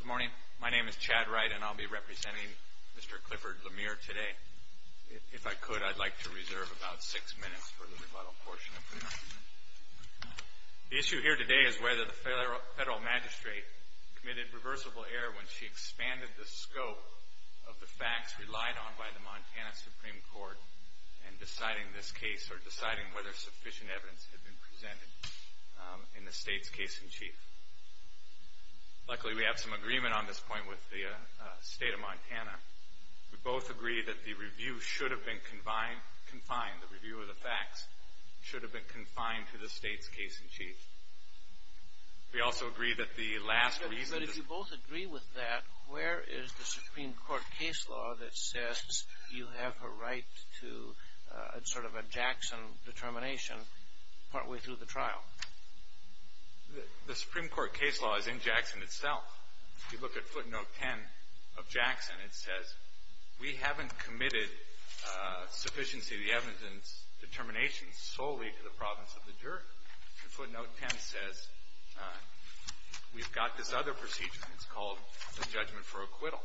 Good morning, my name is Chad Wright and I'll be representing Mr. Clifford Lemire today. If I could, I'd like to reserve about six minutes for the rebuttal portion of the hearing. The issue here today is whether the Federal Magistrate committed reversible error when she expanded the scope of the facts relied on by the Montana Supreme Court in deciding this case or deciding whether sufficient evidence had been presented in the State's case-in-chief. Luckily, we have some agreement on this point with the State of Montana. We both agree that the review should have been confined, the review of the facts should have been confined to the State's case-in-chief. We also agree that the last reason... But if you both agree with that, where is the Supreme Court case law that says you have a right to sort of a Jackson determination partway through the trial? The Supreme Court case law is in Jackson itself. If you look at footnote 10 of Jackson, it says, we haven't committed sufficiency of the evidence determination solely to the province of the juror. Footnote 10 says we've got this other procedure, it's called the judgment for acquittal.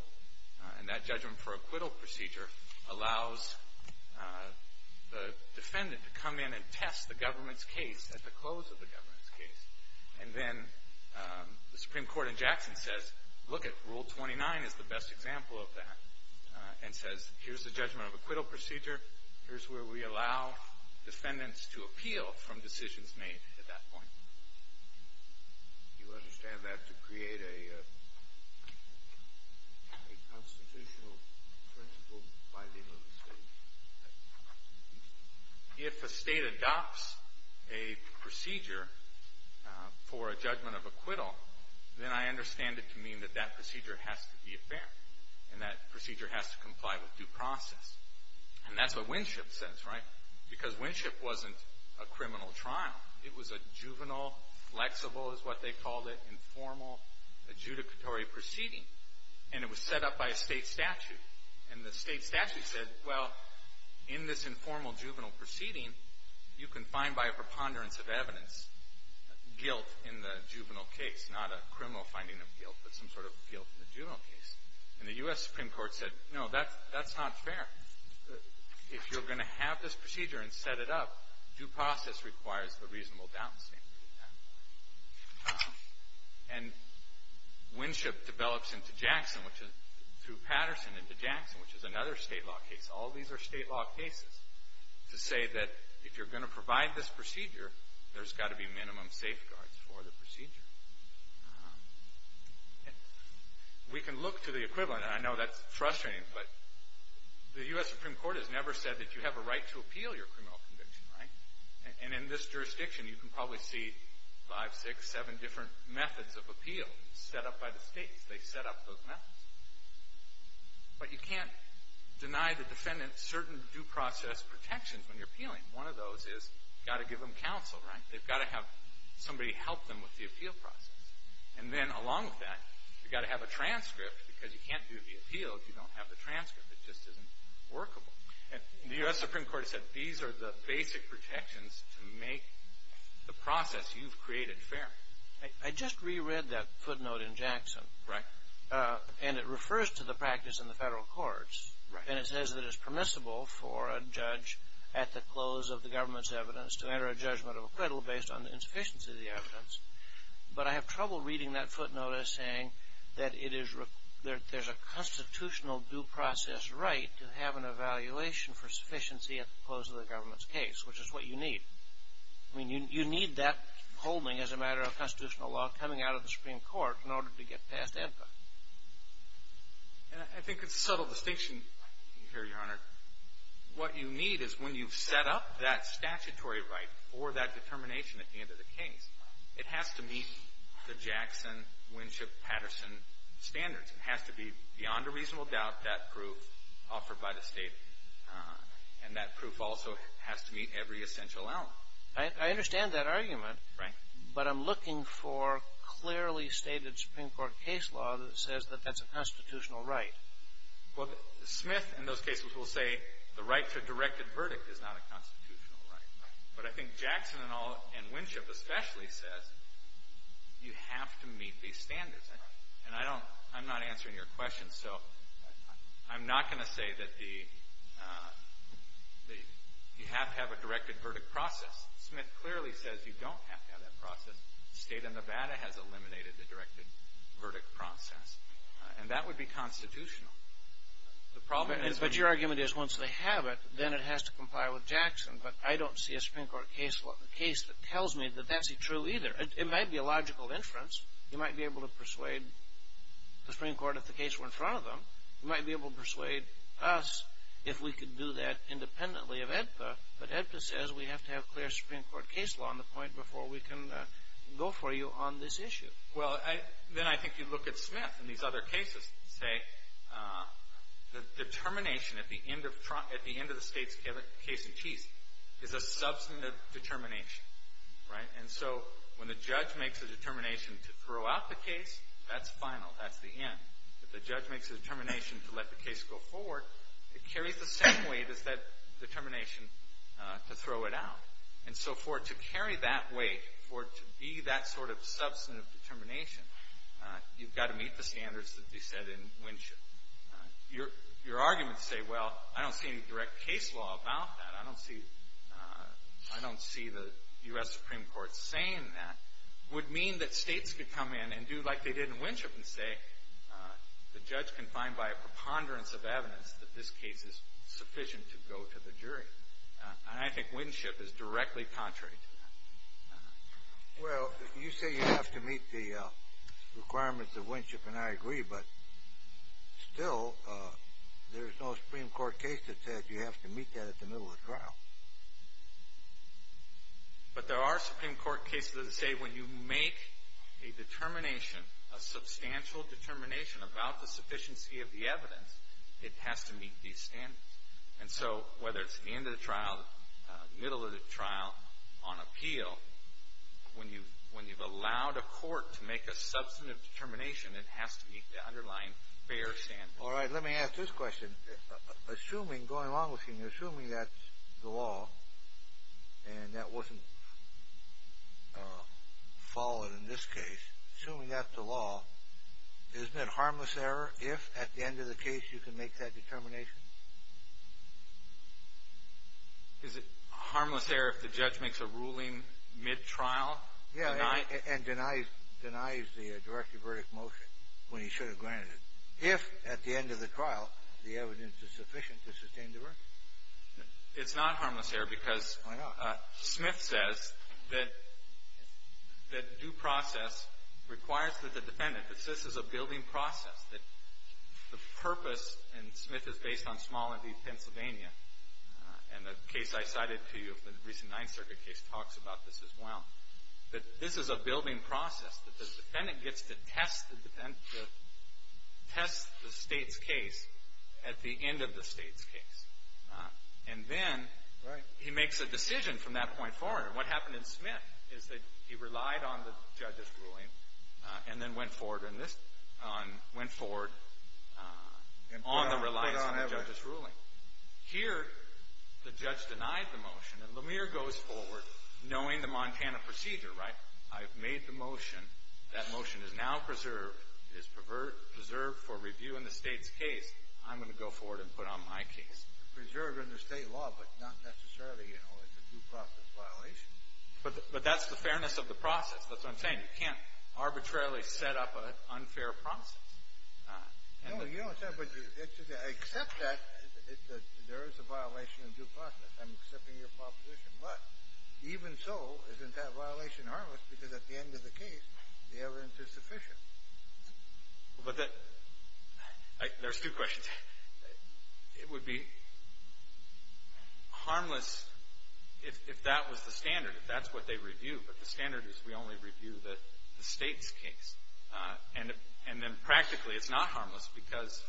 And that judgment for acquittal procedure allows the defendant to come in and test the government's case at the close of the government's case. And then the Supreme Court in Jackson says, lookit, Rule 29 is the best example of that, and says, here's the judgment of acquittal procedure, here's where we allow defendants to appeal from decisions made at that point. Do you understand that to create a constitutional principle by legal estate? If a state adopts a procedure for a judgment of acquittal, then I understand it to mean that that procedure has to be fair, and that procedure has to comply with due process. And that's what Winship says, right? Because Winship wasn't a criminal trial. It was a juvenile, flexible is what they called it, informal, adjudicatory proceeding. And it was set up by a state statute. And the state statute said, well, in this informal juvenile proceeding, you can find by a preponderance of evidence guilt in the juvenile case. Not a criminal finding of guilt, but some sort of guilt in the juvenile case. And the U.S. Supreme Court said, no, that's not fair. If you're going to have this procedure and set it up, due process requires a reasonable downstate. And Winship develops into Jackson, through Patterson into Jackson, which is another state law case. All these are state law cases to say that if you're going to provide this procedure, there's got to be minimum safeguards for the procedure. We can look to the equivalent, and I know that's frustrating, but the U.S. Supreme Court has never said that you have a right to appeal your criminal conviction, right? And in this jurisdiction, you can probably see five, six, seven different methods of appeal set up by the states. They set up those methods. But you can't deny the defendant certain due process protections when you're appealing. One of those is you've got to give them counsel, right? They've got to have somebody help them with the appeal process. And then along with that, you've got to have a transcript, because you can't do the appeal if you don't have the transcript. It just isn't workable. And the U.S. Supreme Court said these are the basic protections to make the process you've created fair. I just reread that footnote in Jackson. Right. And it refers to the practice in the federal courts. And it says that it's permissible for a judge at the close of the government's evidence to enter a judgment of acquittal based on the insufficiency of the evidence. But I have trouble reading that footnote as saying that it is – that there's a constitutional due process right to have an evaluation for sufficiency at the close of the government's case, which is what you need. I mean, you need that holding as a matter of constitutional law coming out of the Supreme Court in order to get past impact. And I think it's a subtle distinction here, Your Honor. What you need is when you've set up that statutory right for that determination at the end of the case, it has to meet the Jackson-Winship-Patterson standards. It has to be, beyond a reasonable doubt, that proof offered by the State. And that proof also has to meet every essential element. I understand that argument. Right. But I'm looking for clearly stated Supreme Court case law that says that that's a constitutional right. Well, Smith in those cases will say the right to a directed verdict is not a constitutional right. But I think Jackson and Winship especially says you have to meet these standards. And I'm not answering your question. So I'm not going to say that you have to have a directed verdict process. Smith clearly says you don't have to have that process. The State of Nevada has eliminated the directed verdict process. And that would be constitutional. But your argument is once they have it, then it has to comply with Jackson. But I don't see a Supreme Court case law case that tells me that that's true either. It might be a logical inference. You might be able to persuade the Supreme Court if the case were in front of them. You might be able to persuade us if we could do that independently of AEDPA. But AEDPA says we have to have clear Supreme Court case law on the point before we can go for you on this issue. Well, then I think you look at Smith in these other cases and say the determination at the end of the State's case in chief is a substantive determination. Right? And so when the judge makes a determination to throw out the case, that's final. That's the end. If the judge makes a determination to let the case go forward, it carries the same weight as that determination to throw it out. And so for it to carry that weight, for it to be that sort of substantive determination, you've got to meet the standards that they set in Winship. Your arguments say, well, I don't see any direct case law about that. I don't see the U.S. Supreme Court saying that would mean that states could come in and do like they did in Winship and say the judge can find by a preponderance of evidence that this case is sufficient to go to the jury. And I think Winship is directly contrary to that. Well, you say you have to meet the requirements of Winship, and I agree. But still, there's no Supreme Court case that says you have to meet that at the middle of the trial. But there are Supreme Court cases that say when you make a determination, a substantial determination about the sufficiency of the evidence, it has to meet these standards. And so whether it's at the end of the trial, middle of the trial, on appeal, when you've allowed a court to make a substantive determination, it has to meet the underlying fair standards. All right, let me ask this question. Assuming, going along with you, assuming that's the law, and that wasn't followed in this case, assuming that's the law, isn't it harmless error if at the end of the case you can make that determination? Is it harmless error if the judge makes a ruling mid-trial? Yeah, and denies the directive verdict motion when he should have granted it, if at the end of the trial the evidence is sufficient to sustain the verdict. It's not harmless error because Smith says that due process requires that the defendant, that this is a building process, that the purpose, and Smith is based on small and deep Pennsylvania, and the case I cited to you, the recent Ninth Circuit case, talks about this as well, that this is a building process, that the defendant gets to test the state's case at the end of the state's case. And then he makes a decision from that point forward. And what happened in Smith is that he relied on the judge's ruling and then went forward on this, went forward on the reliance on the judge's ruling. Here, the judge denied the motion, and Lemire goes forward knowing the Montana procedure, right? I've made the motion. That motion is now preserved. It is preserved for review in the state's case. I'm going to go forward and put on my case. It's preserved under state law, but not necessarily, you know, it's a due process violation. But that's the fairness of the process. That's what I'm saying. You can't arbitrarily set up an unfair process. No, you don't say that, but I accept that there is a violation of due process. I'm accepting your proposition. But even so, isn't that violation harmless because at the end of the case the evidence is sufficient? But there's two questions. It would be harmless if that was the standard, if that's what they review. But the standard is we only review the state's case. And then practically it's not harmless because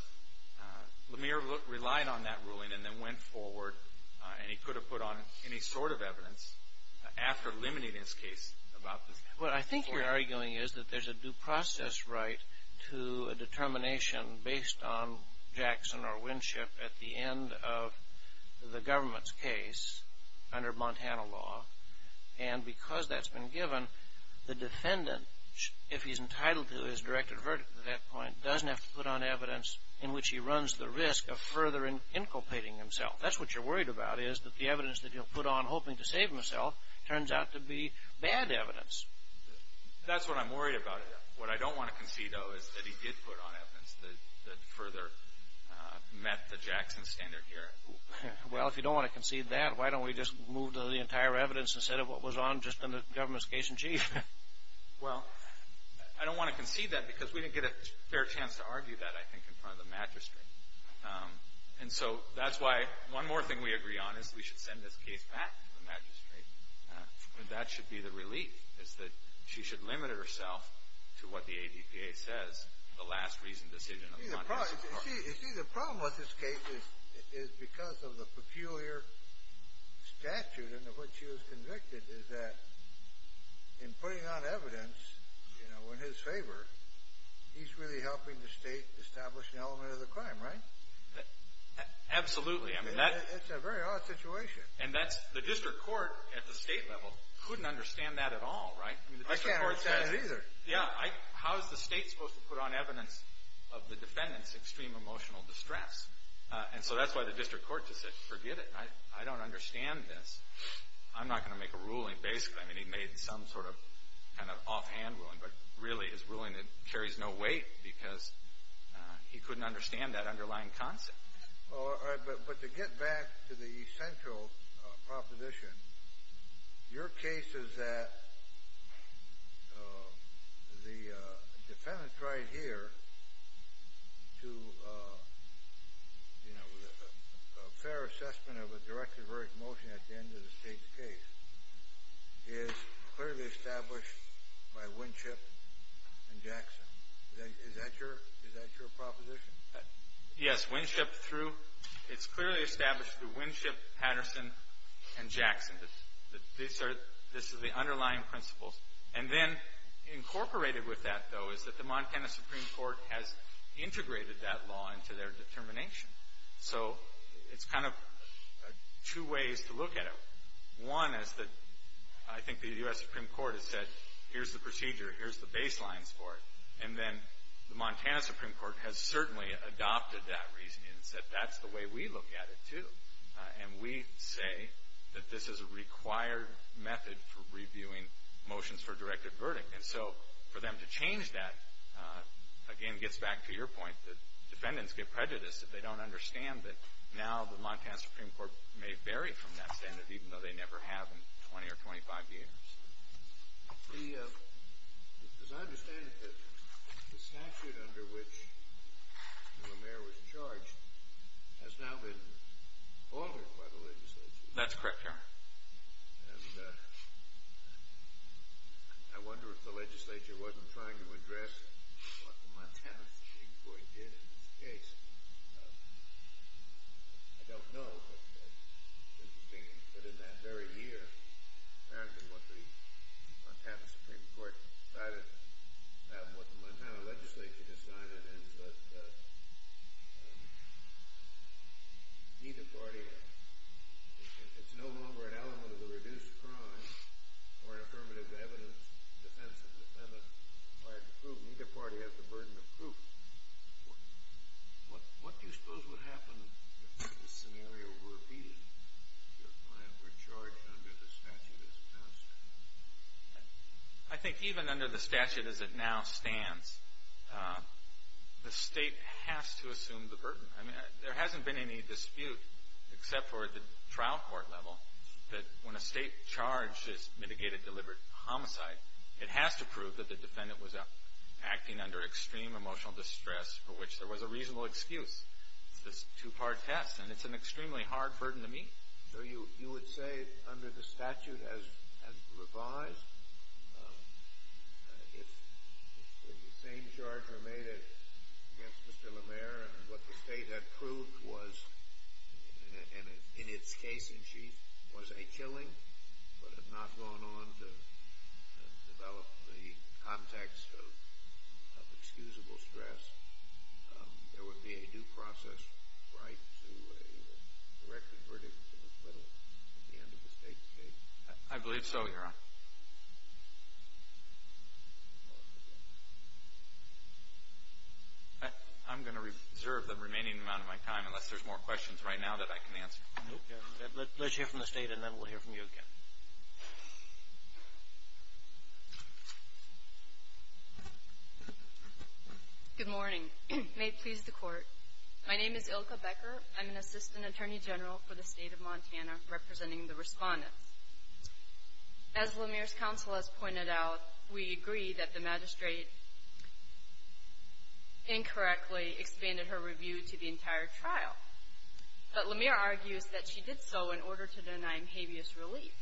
Lemire relied on that ruling and then went forward, and he could have put on any sort of evidence after limiting his case about this. What I think you're arguing is that there's a due process right to a determination based on Jackson or Winship at the end of the government's case under Montana law. And because that's been given, the defendant, if he's entitled to his directed verdict at that point, doesn't have to put on evidence in which he runs the risk of further inculpating himself. That's what you're worried about is that the evidence that he'll put on hoping to save himself turns out to be bad evidence. That's what I'm worried about. What I don't want to concede, though, is that he did put on evidence that further met the Jackson standard here. Well, if you don't want to concede that, why don't we just move to the entire evidence instead of what was on just in the government's case in chief? Well, I don't want to concede that because we didn't get a fair chance to argue that, I think, in front of the magistrate. And so that's why one more thing we agree on is we should send this case back to the magistrate. And that should be the relief is that she should limit herself to what the ADPA says, the last reasoned decision of the Montana Supreme Court. You see, the problem with this case is because of the peculiar statute in which she was convicted, is that in putting on evidence in his favor, he's really helping the state establish the element of the crime, right? Absolutely. It's a very odd situation. And that's the district court at the state level couldn't understand that at all, right? I can't understand it either. Yeah. How is the state supposed to put on evidence of the defendant's extreme emotional distress? And so that's why the district court just said, forget it. I don't understand this. I'm not going to make a ruling. I mean, he made some sort of kind of offhand ruling, but really his ruling carries no weight because he couldn't understand that underlying concept. All right. But to get back to the central proposition, your case is that the defendant's right here to, you know, a fair assessment of a directed verdict motion at the end of the state's case is clearly established by Winship and Jackson. Is that your proposition? Yes. Winship through. It's clearly established through Winship, Patterson, and Jackson. This is the underlying principles. And then incorporated with that, though, is that the Montana Supreme Court has integrated that law into their determination. So it's kind of two ways to look at it. One is that I think the U.S. Supreme Court has said, here's the procedure. Here's the baselines for it. And then the Montana Supreme Court has certainly adopted that reasoning and said that's the way we look at it, too. And we say that this is a required method for reviewing motions for a directed verdict. And so for them to change that, again, gets back to your point that defendants get prejudiced if they don't understand that now the Montana Supreme Court may vary from that standard, even though they never have in 20 or 25 years. As I understand it, the statute under which the mayor was charged has now been altered by the legislature. That's correct, Your Honor. And I wonder if the legislature wasn't trying to address what the Montana Supreme Court did in this case. I don't know. But it's interesting that in that very year, apparently what the Montana Supreme Court decided and what the Montana legislature decided is that neither party has – it's no longer an element of the reduced crime or an affirmative evidence defense that defendants are required to prove. What do you suppose would happen if this scenario were repeated, if a client were charged under the statute as passed? I think even under the statute as it now stands, the state has to assume the burden. There hasn't been any dispute, except for at the trial court level, that when a state charge is mitigated deliberate homicide, it has to prove that the defendant was acting under extreme emotional distress for which there was a reasonable excuse. It's this two-part test, and it's an extremely hard burden to meet. So you would say under the statute as revised, if the same charge were made against Mr. LeMaire and what the state had proved was – but had not gone on to develop the context of excusable stress, there would be a due process right to a directly verdict of acquittal at the end of the state's case. I believe so, Your Honor. I'm going to reserve the remaining amount of my time, unless there's more questions right now that I can answer. Let's hear from the State, and then we'll hear from you again. Good morning. May it please the Court. My name is Ilka Becker. I'm an Assistant Attorney General for the State of Montana, representing the respondents. As LeMaire's counsel has pointed out, we agree that the magistrate incorrectly expanded her review to the entire trial. But LeMaire argues that she did so in order to deny him habeas relief.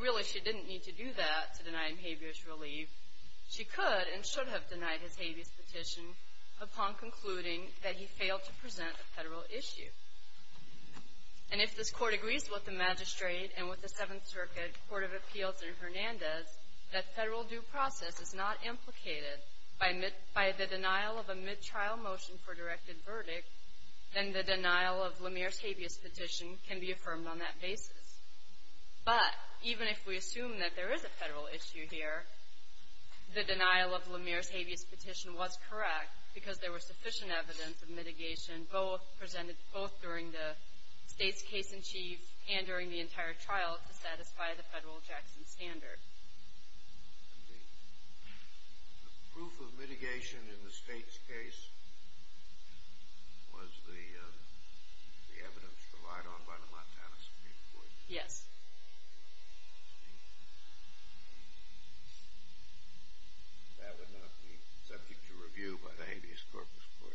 Really, she didn't need to do that to deny him habeas relief. She could and should have denied his habeas petition upon concluding that he failed to present a federal issue. And if this Court agrees with the magistrate and with the Seventh Circuit Court of Appeals in Hernandez that federal due process is not implicated by the denial of a mid-trial motion for directed verdict, then the denial of LeMaire's habeas petition can be affirmed on that basis. But even if we assume that there is a federal issue here, the denial of LeMaire's habeas petition was correct because there was sufficient evidence of mitigation both during the State's case in chief and during the entire trial to satisfy the federal Jackson standard. The proof of mitigation in the State's case was the evidence relied on by the Montana Supreme Court. Yes. That would not be subject to review by the Habeas Corpus Court.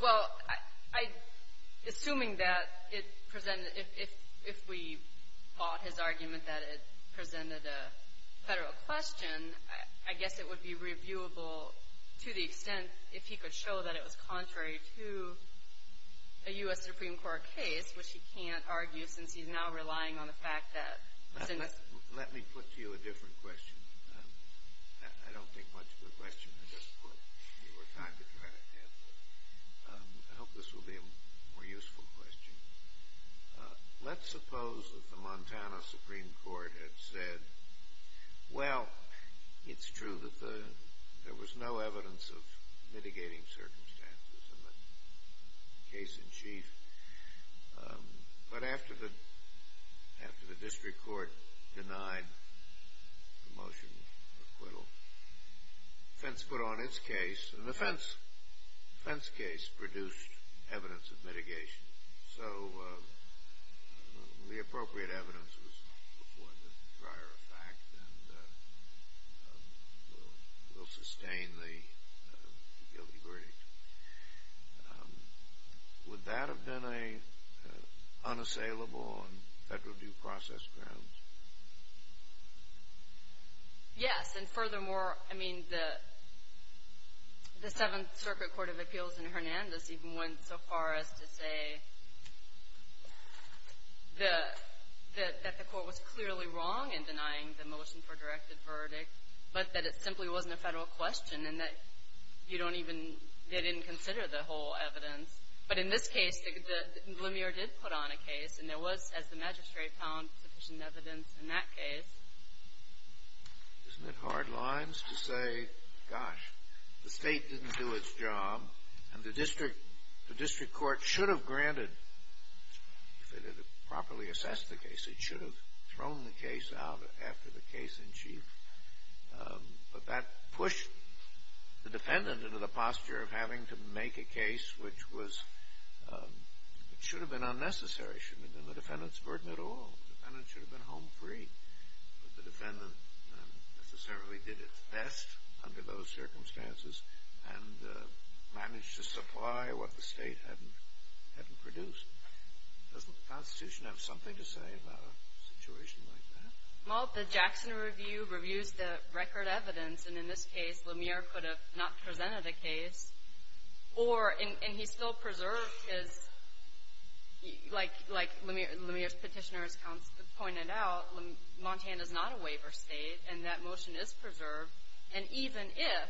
Well, I — assuming that it presented — if we bought his argument that it presented a federal question, I guess it would be reviewable to the extent if he could show that it was contrary to a U.S. Supreme Court case, which he can't argue since he's now relying on the fact that — Let me put to you a different question. I don't think much of a question at this point. I hope this will be a more useful question. Let's suppose that the Montana Supreme Court had said, well, it's true that there was no evidence of mitigating circumstances in the case in chief. But after the district court denied the motion for acquittal, the defense put on its case, and the defense case produced evidence of mitigation. So the appropriate evidence was the prior fact and will sustain the guilty verdict. Would that have been unassailable on federal due process grounds? Yes. And furthermore, I mean, the Seventh Circuit Court of Appeals in Hernandez even went so far as to say that the court was clearly wrong in denying the motion for directed verdict, but that it simply wasn't a federal question and that you don't even — they didn't consider the whole evidence. But in this case, the — Lumiere did put on a case, and there was, as the magistrate found, sufficient evidence in that case. Isn't it hard lines to say, gosh, the state didn't do its job, and the district court should have granted — if it had properly assessed the case, it should have thrown the case out after the case in chief. But that pushed the defendant into the posture of having to make a case which was — it should have been unnecessary, shouldn't have been the defendant's burden at all. The defendant should have been home free. But the defendant necessarily did its best under those circumstances and managed to supply what the state hadn't produced. Doesn't the Constitution have something to say about a situation like that? Well, the Jackson Review reviews the record evidence, and in this case, Lumiere could have not presented a case or — and he still preserved his — like Lumiere's petitioner has pointed out, Montana's not a waiver state, and that motion is preserved. And even if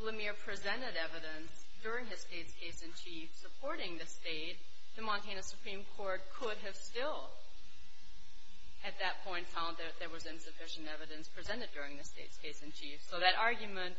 Lumiere presented evidence during his state's case in chief supporting the state, the Montana Supreme Court could have still, at that point, found that there was insufficient evidence presented during the state's case in chief. So that argument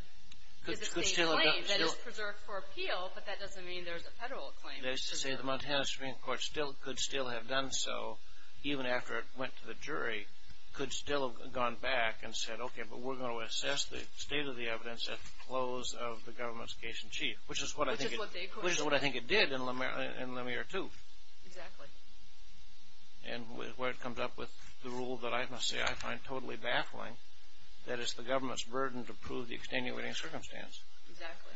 is a state claim that is preserved for appeal, but that doesn't mean there's a federal claim that's preserved. That is to say, the Montana Supreme Court could still have done so, even after it went to the jury, could still have gone back and said, okay, but we're going to assess the state of the evidence at the close of the government's case in chief, which is what I think it did in Lumiere 2. Exactly. And where it comes up with the rule that I must say I find totally baffling, that it's the government's burden to prove the extenuating circumstance. Exactly.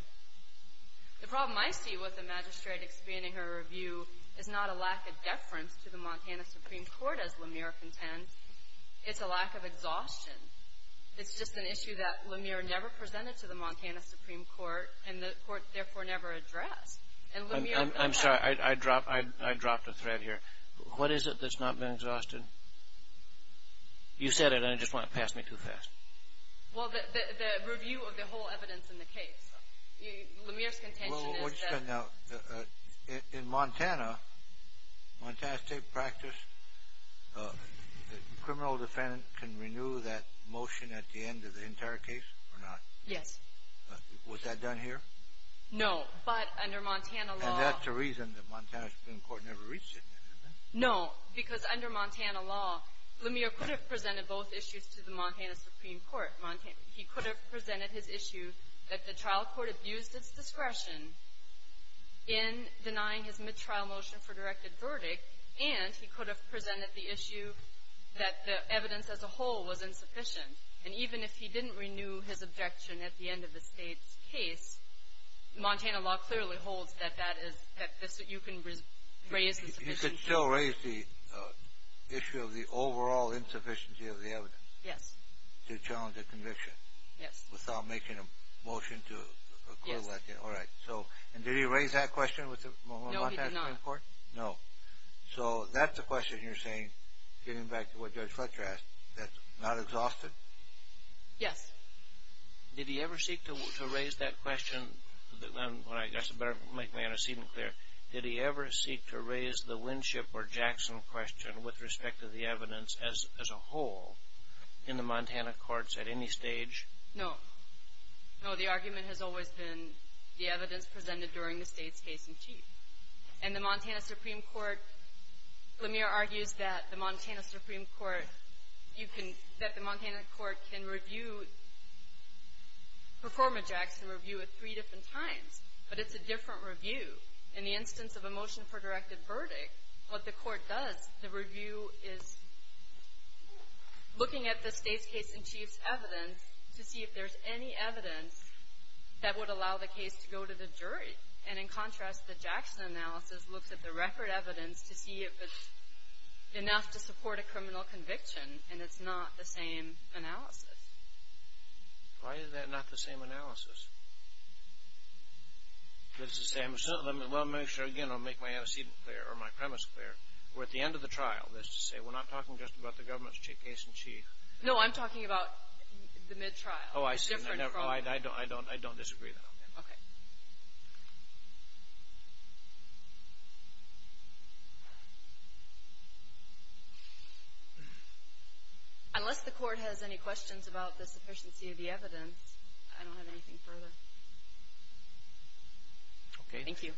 The problem I see with the magistrate expanding her review is not a lack of deference to the Montana Supreme Court, as Lumiere contends, it's a lack of exhaustion. It's just an issue that Lumiere never presented to the Montana Supreme Court, and the court therefore never addressed. I'm sorry, I dropped a thread here. What is it that's not been exhausted? You said it, and I just want it passed me too fast. Well, the review of the whole evidence in the case. Lumiere's contention is that— In Montana, Montana state practice, the criminal defendant can renew that motion at the end of the entire case or not? Yes. Was that done here? No, but under Montana law— And that's the reason the Montana Supreme Court never reached it. No, because under Montana law, Lumiere could have presented both issues to the Montana Supreme Court. He could have presented his issue that the trial court abused its discretion in denying his mid-trial motion for directed verdict, and he could have presented the issue that the evidence as a whole was insufficient. And even if he didn't renew his objection at the end of the state's case, Montana law clearly holds that you can raise the— You could still raise the issue of the overall insufficiency of the evidence. Yes. To challenge a conviction. Yes. Without making a motion to accrue that. Yes. All right. And did he raise that question with the Montana Supreme Court? No, he did not. No. So that's the question you're saying, getting back to what Judge Fletcher asked, that's not exhausted? Yes. Did he ever seek to raise that question? That's better to make my antecedent clear. Did he ever seek to raise the Winship or Jackson question with respect to the evidence as a whole in the Montana courts at any stage? No. No, the argument has always been the evidence presented during the state's case in chief. In the Montana Supreme Court, Lemire argues that the Montana Supreme Court can review—perform a Jackson review at three different times, but it's a different review. In the instance of a motion for directed verdict, what the court does, the review is looking at the state's case in chief's evidence to see if there's any evidence that would allow the case to go to the jury. And in contrast, the Jackson analysis looks at the record evidence to see if it's enough to support a criminal conviction, and it's not the same analysis. Why is that not the same analysis? That's to say—well, let me make sure, again, I'll make my antecedent clear or my premise clear. We're at the end of the trial. That's to say we're not talking just about the government's case in chief. No, I'm talking about the mid-trial. Oh, I see. It's a different problem. I don't disagree with that. Okay. Unless the court has any questions about the sufficiency of the evidence, I don't have anything further. Okay. Thank you. Thank you.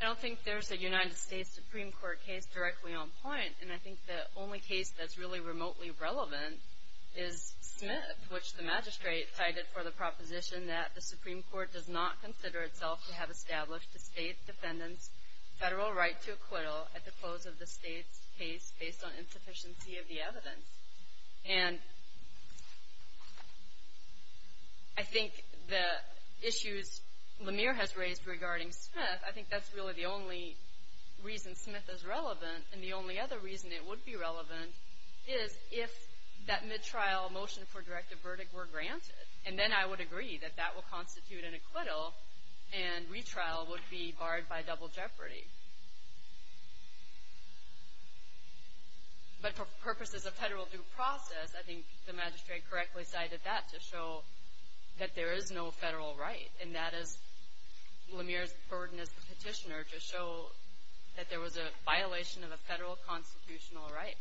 I don't think there's a United States Supreme Court case directly on point, and I think the only case that's really remotely relevant is Smith, which the magistrate cited for the proposition that the Supreme Court does not consider itself to have established the state defendant's federal right to acquittal at the close of the state's case based on insufficiency of the evidence. And I think the issues Lemire has raised regarding Smith, I think that's really the only reason Smith is relevant, and the only other reason it would be relevant is if that mid-trial motion for directive verdict were granted, and then I would agree that that would constitute an acquittal and retrial would be barred by double jeopardy. But for purposes of federal due process, I think the magistrate correctly cited that to show that there is no federal right, and that is Lemire's burden as the petitioner to show that there was a violation of a federal constitutional right. Any further questions? I'm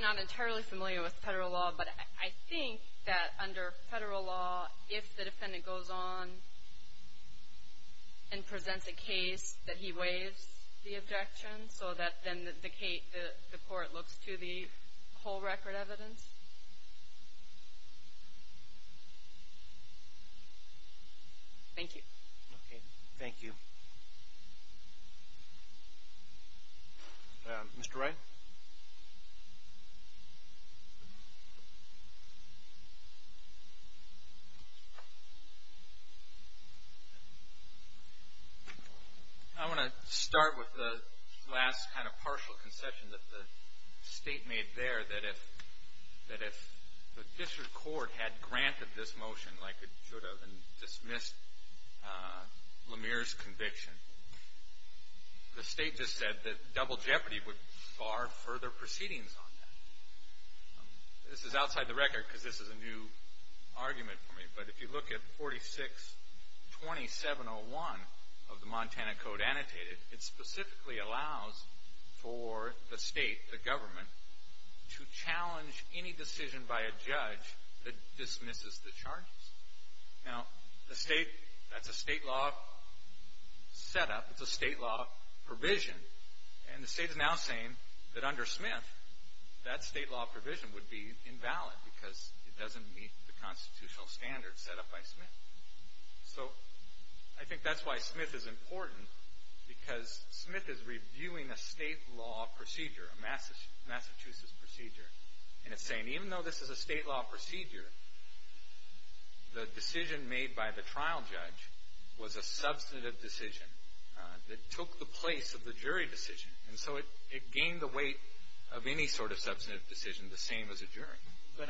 not entirely familiar with federal law, but I think that under federal law, if the defendant goes on and presents a case, that he waives the objection so that then the court looks to the whole record evidence. Thank you. Okay. Thank you. Mr. Wright? I want to start with the last kind of partial concession that the State made there, that if the district court had granted this motion like it should have and dismissed Lemire's conviction, the State just said that double jeopardy would bar further proceedings on that. This is outside the record because this is a new argument for me, but if you look at 46-2701 of the Montana Code annotated, it specifically allows for the State, the government, to challenge any decision by a judge that dismisses the charges. Now, the State, that's a State law setup. It's a State law provision, and the State is now saying that under Smith, that State law provision would be invalid because it doesn't meet the constitutional standards set up by Smith. So I think that's why Smith is important because Smith is reviewing a State law procedure, a Massachusetts procedure, and it's saying even though this is a State law procedure, the decision made by the trial judge was a substantive decision that took the place of the jury decision, and so it gained the weight of any sort of substantive decision, the same as a jury. But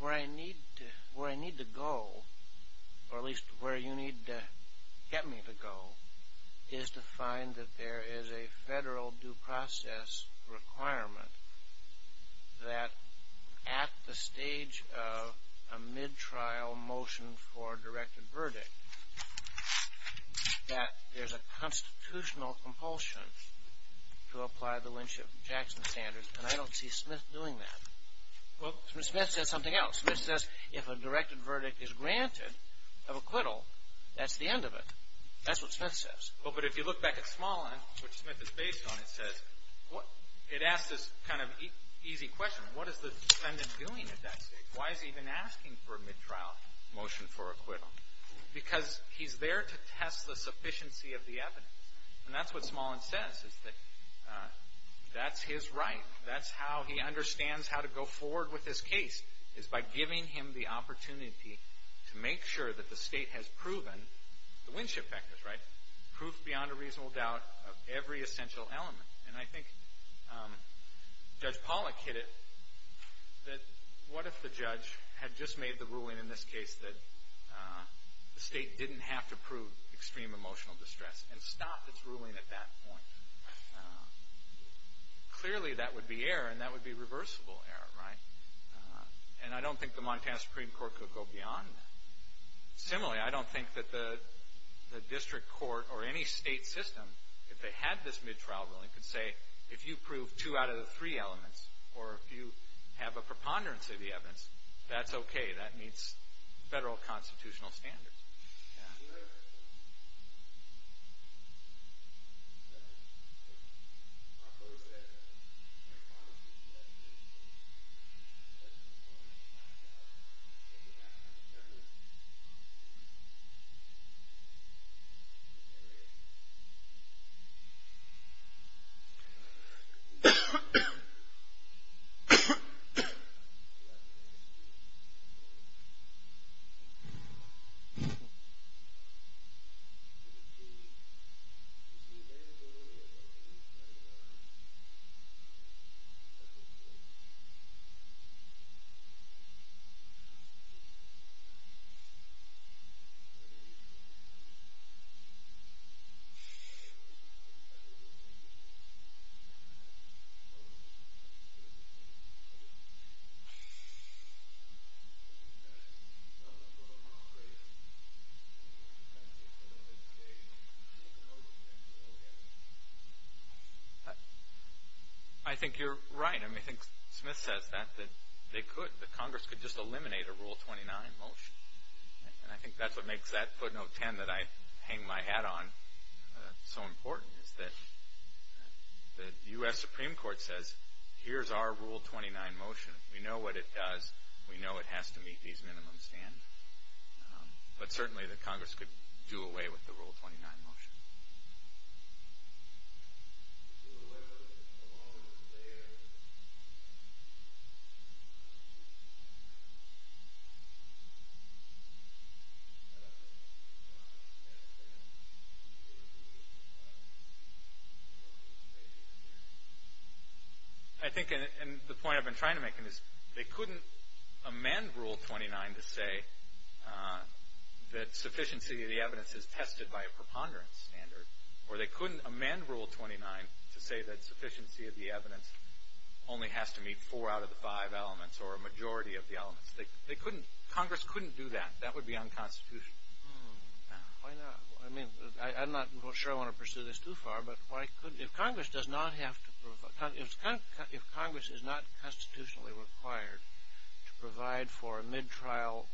where I need to go, or at least where you need to get me to go, is to find that there is a federal due process requirement that at the stage of a mid-trial motion for a directed verdict, that there's a constitutional compulsion to apply the Lynch-Jackson standards, and I don't see Smith doing that. Well, Smith says something else. Smith says if a directed verdict is granted of acquittal, that's the end of it. That's what Smith says. Well, but if you look back at Smolin, which Smith is based on, it says, it asks this kind of easy question. What is the defendant doing at that stage? Why is he even asking for a mid-trial motion for acquittal? Because he's there to test the sufficiency of the evidence, and that's what Smolin says, is that that's his right. That's how he understands how to go forward with this case, is by giving him the opportunity to make sure that the state has proven the Winship factors, right? Proof beyond a reasonable doubt of every essential element. And I think Judge Pollack hit it that what if the judge had just made the ruling in this case that the state didn't have to prove extreme emotional distress and stopped its ruling at that point? Clearly, that would be error, and that would be reversible error, right? And I don't think the Montana Supreme Court could go beyond that. Similarly, I don't think that the district court or any state system, if they had this mid-trial ruling, could say, if you prove two out of the three elements, or if you have a preponderance of the evidence, that's okay. That meets federal constitutional standards. Thank you. I think you're right. I mean, I think Smith says that, that they could, that Congress could just eliminate a Rule 29 motion. And I think that's what makes that footnote 10 that I hang my hat on so important, is that the U.S. Supreme Court says, here's our Rule 29 motion. We know what it does. We know it has to meet these minimum standards. But certainly, the Congress could do away with the Rule 29 motion. I think, and the point I've been trying to make is they couldn't amend Rule 29 to say that sufficiency of the evidence is tested by a preponderance standard. Or they couldn't amend Rule 29 to say that sufficiency of the evidence only has to meet four out of the five elements, or a majority of the elements. They couldn't, Congress couldn't do that. That would be unconstitutional. Why not? I mean, I'm not sure I want to pursue this too far, but why couldn't, if Congress does not have to, if Congress is not constitutionally required to provide for a mid-trial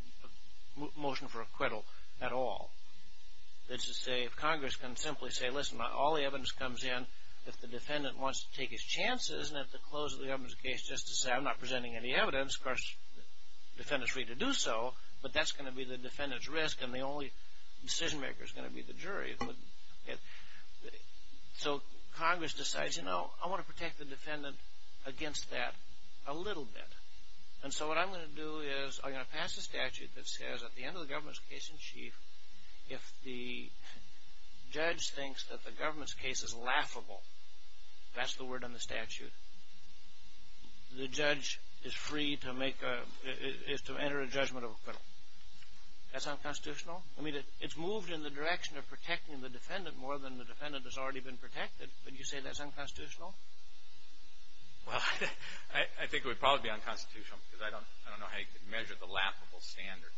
motion for acquittal at all, let's just say if Congress can simply say, listen, all the evidence comes in, if the defendant wants to take his chances and have to close the evidence case just to say, I'm not presenting any evidence, of course, the defendant's free to do so, but that's going to be the defendant's risk and the only decision maker is going to be the jury. So Congress decides, you know, I want to protect the defendant against that a little bit. And so what I'm going to do is I'm going to pass a statute that says at the end of the government's case in chief, if the judge thinks that the government's case is laughable, that's the word on the statute, the judge is free to make a, is to enter a judgment of acquittal. That's unconstitutional. I mean, it's moved in the direction of protecting the defendant more than the defendant has already been protected. Would you say that's unconstitutional? Well, I think it would probably be unconstitutional because I don't know how you could measure the laughable standard.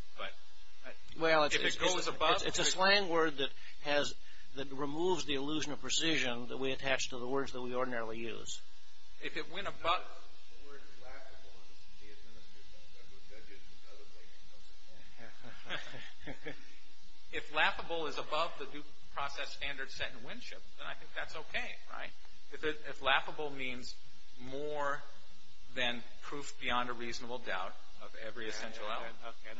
Well, it's a slang word that has, that removes the illusion of precision that we attach to the words that we ordinarily use. If it went above, if laughable is above the due process standard set in Winship, then I think that's okay, right? If laughable means more than proof beyond a reasonable doubt of every essential element. Okay.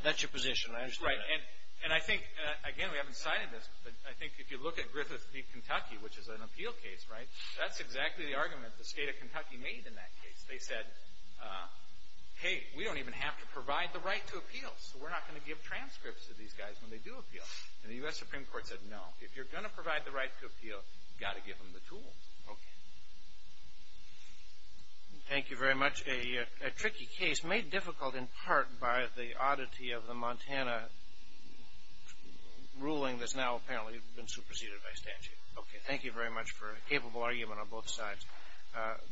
That's your position. I understand that. Right. And I think, again, we haven't cited this, but I think if you look at Griffith v. Kentucky, which is an appeal case, right, that's exactly the argument the state of Kentucky made in that case. They said, hey, we don't even have to provide the right to appeal, so we're not going to give transcripts to these guys when they do appeal. And the U.S. Supreme Court said, no, if you're going to provide the right to appeal, you've got to give them the tools. Okay. Thank you very much. A tricky case made difficult in part by the oddity of the Montana ruling that's now apparently been superseded by statute. Okay. Thank you very much for a capable argument on both sides.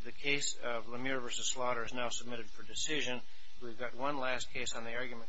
The case of Lemire v. Slaughter is now submitted for decision. We've got one last case on the argument calendar.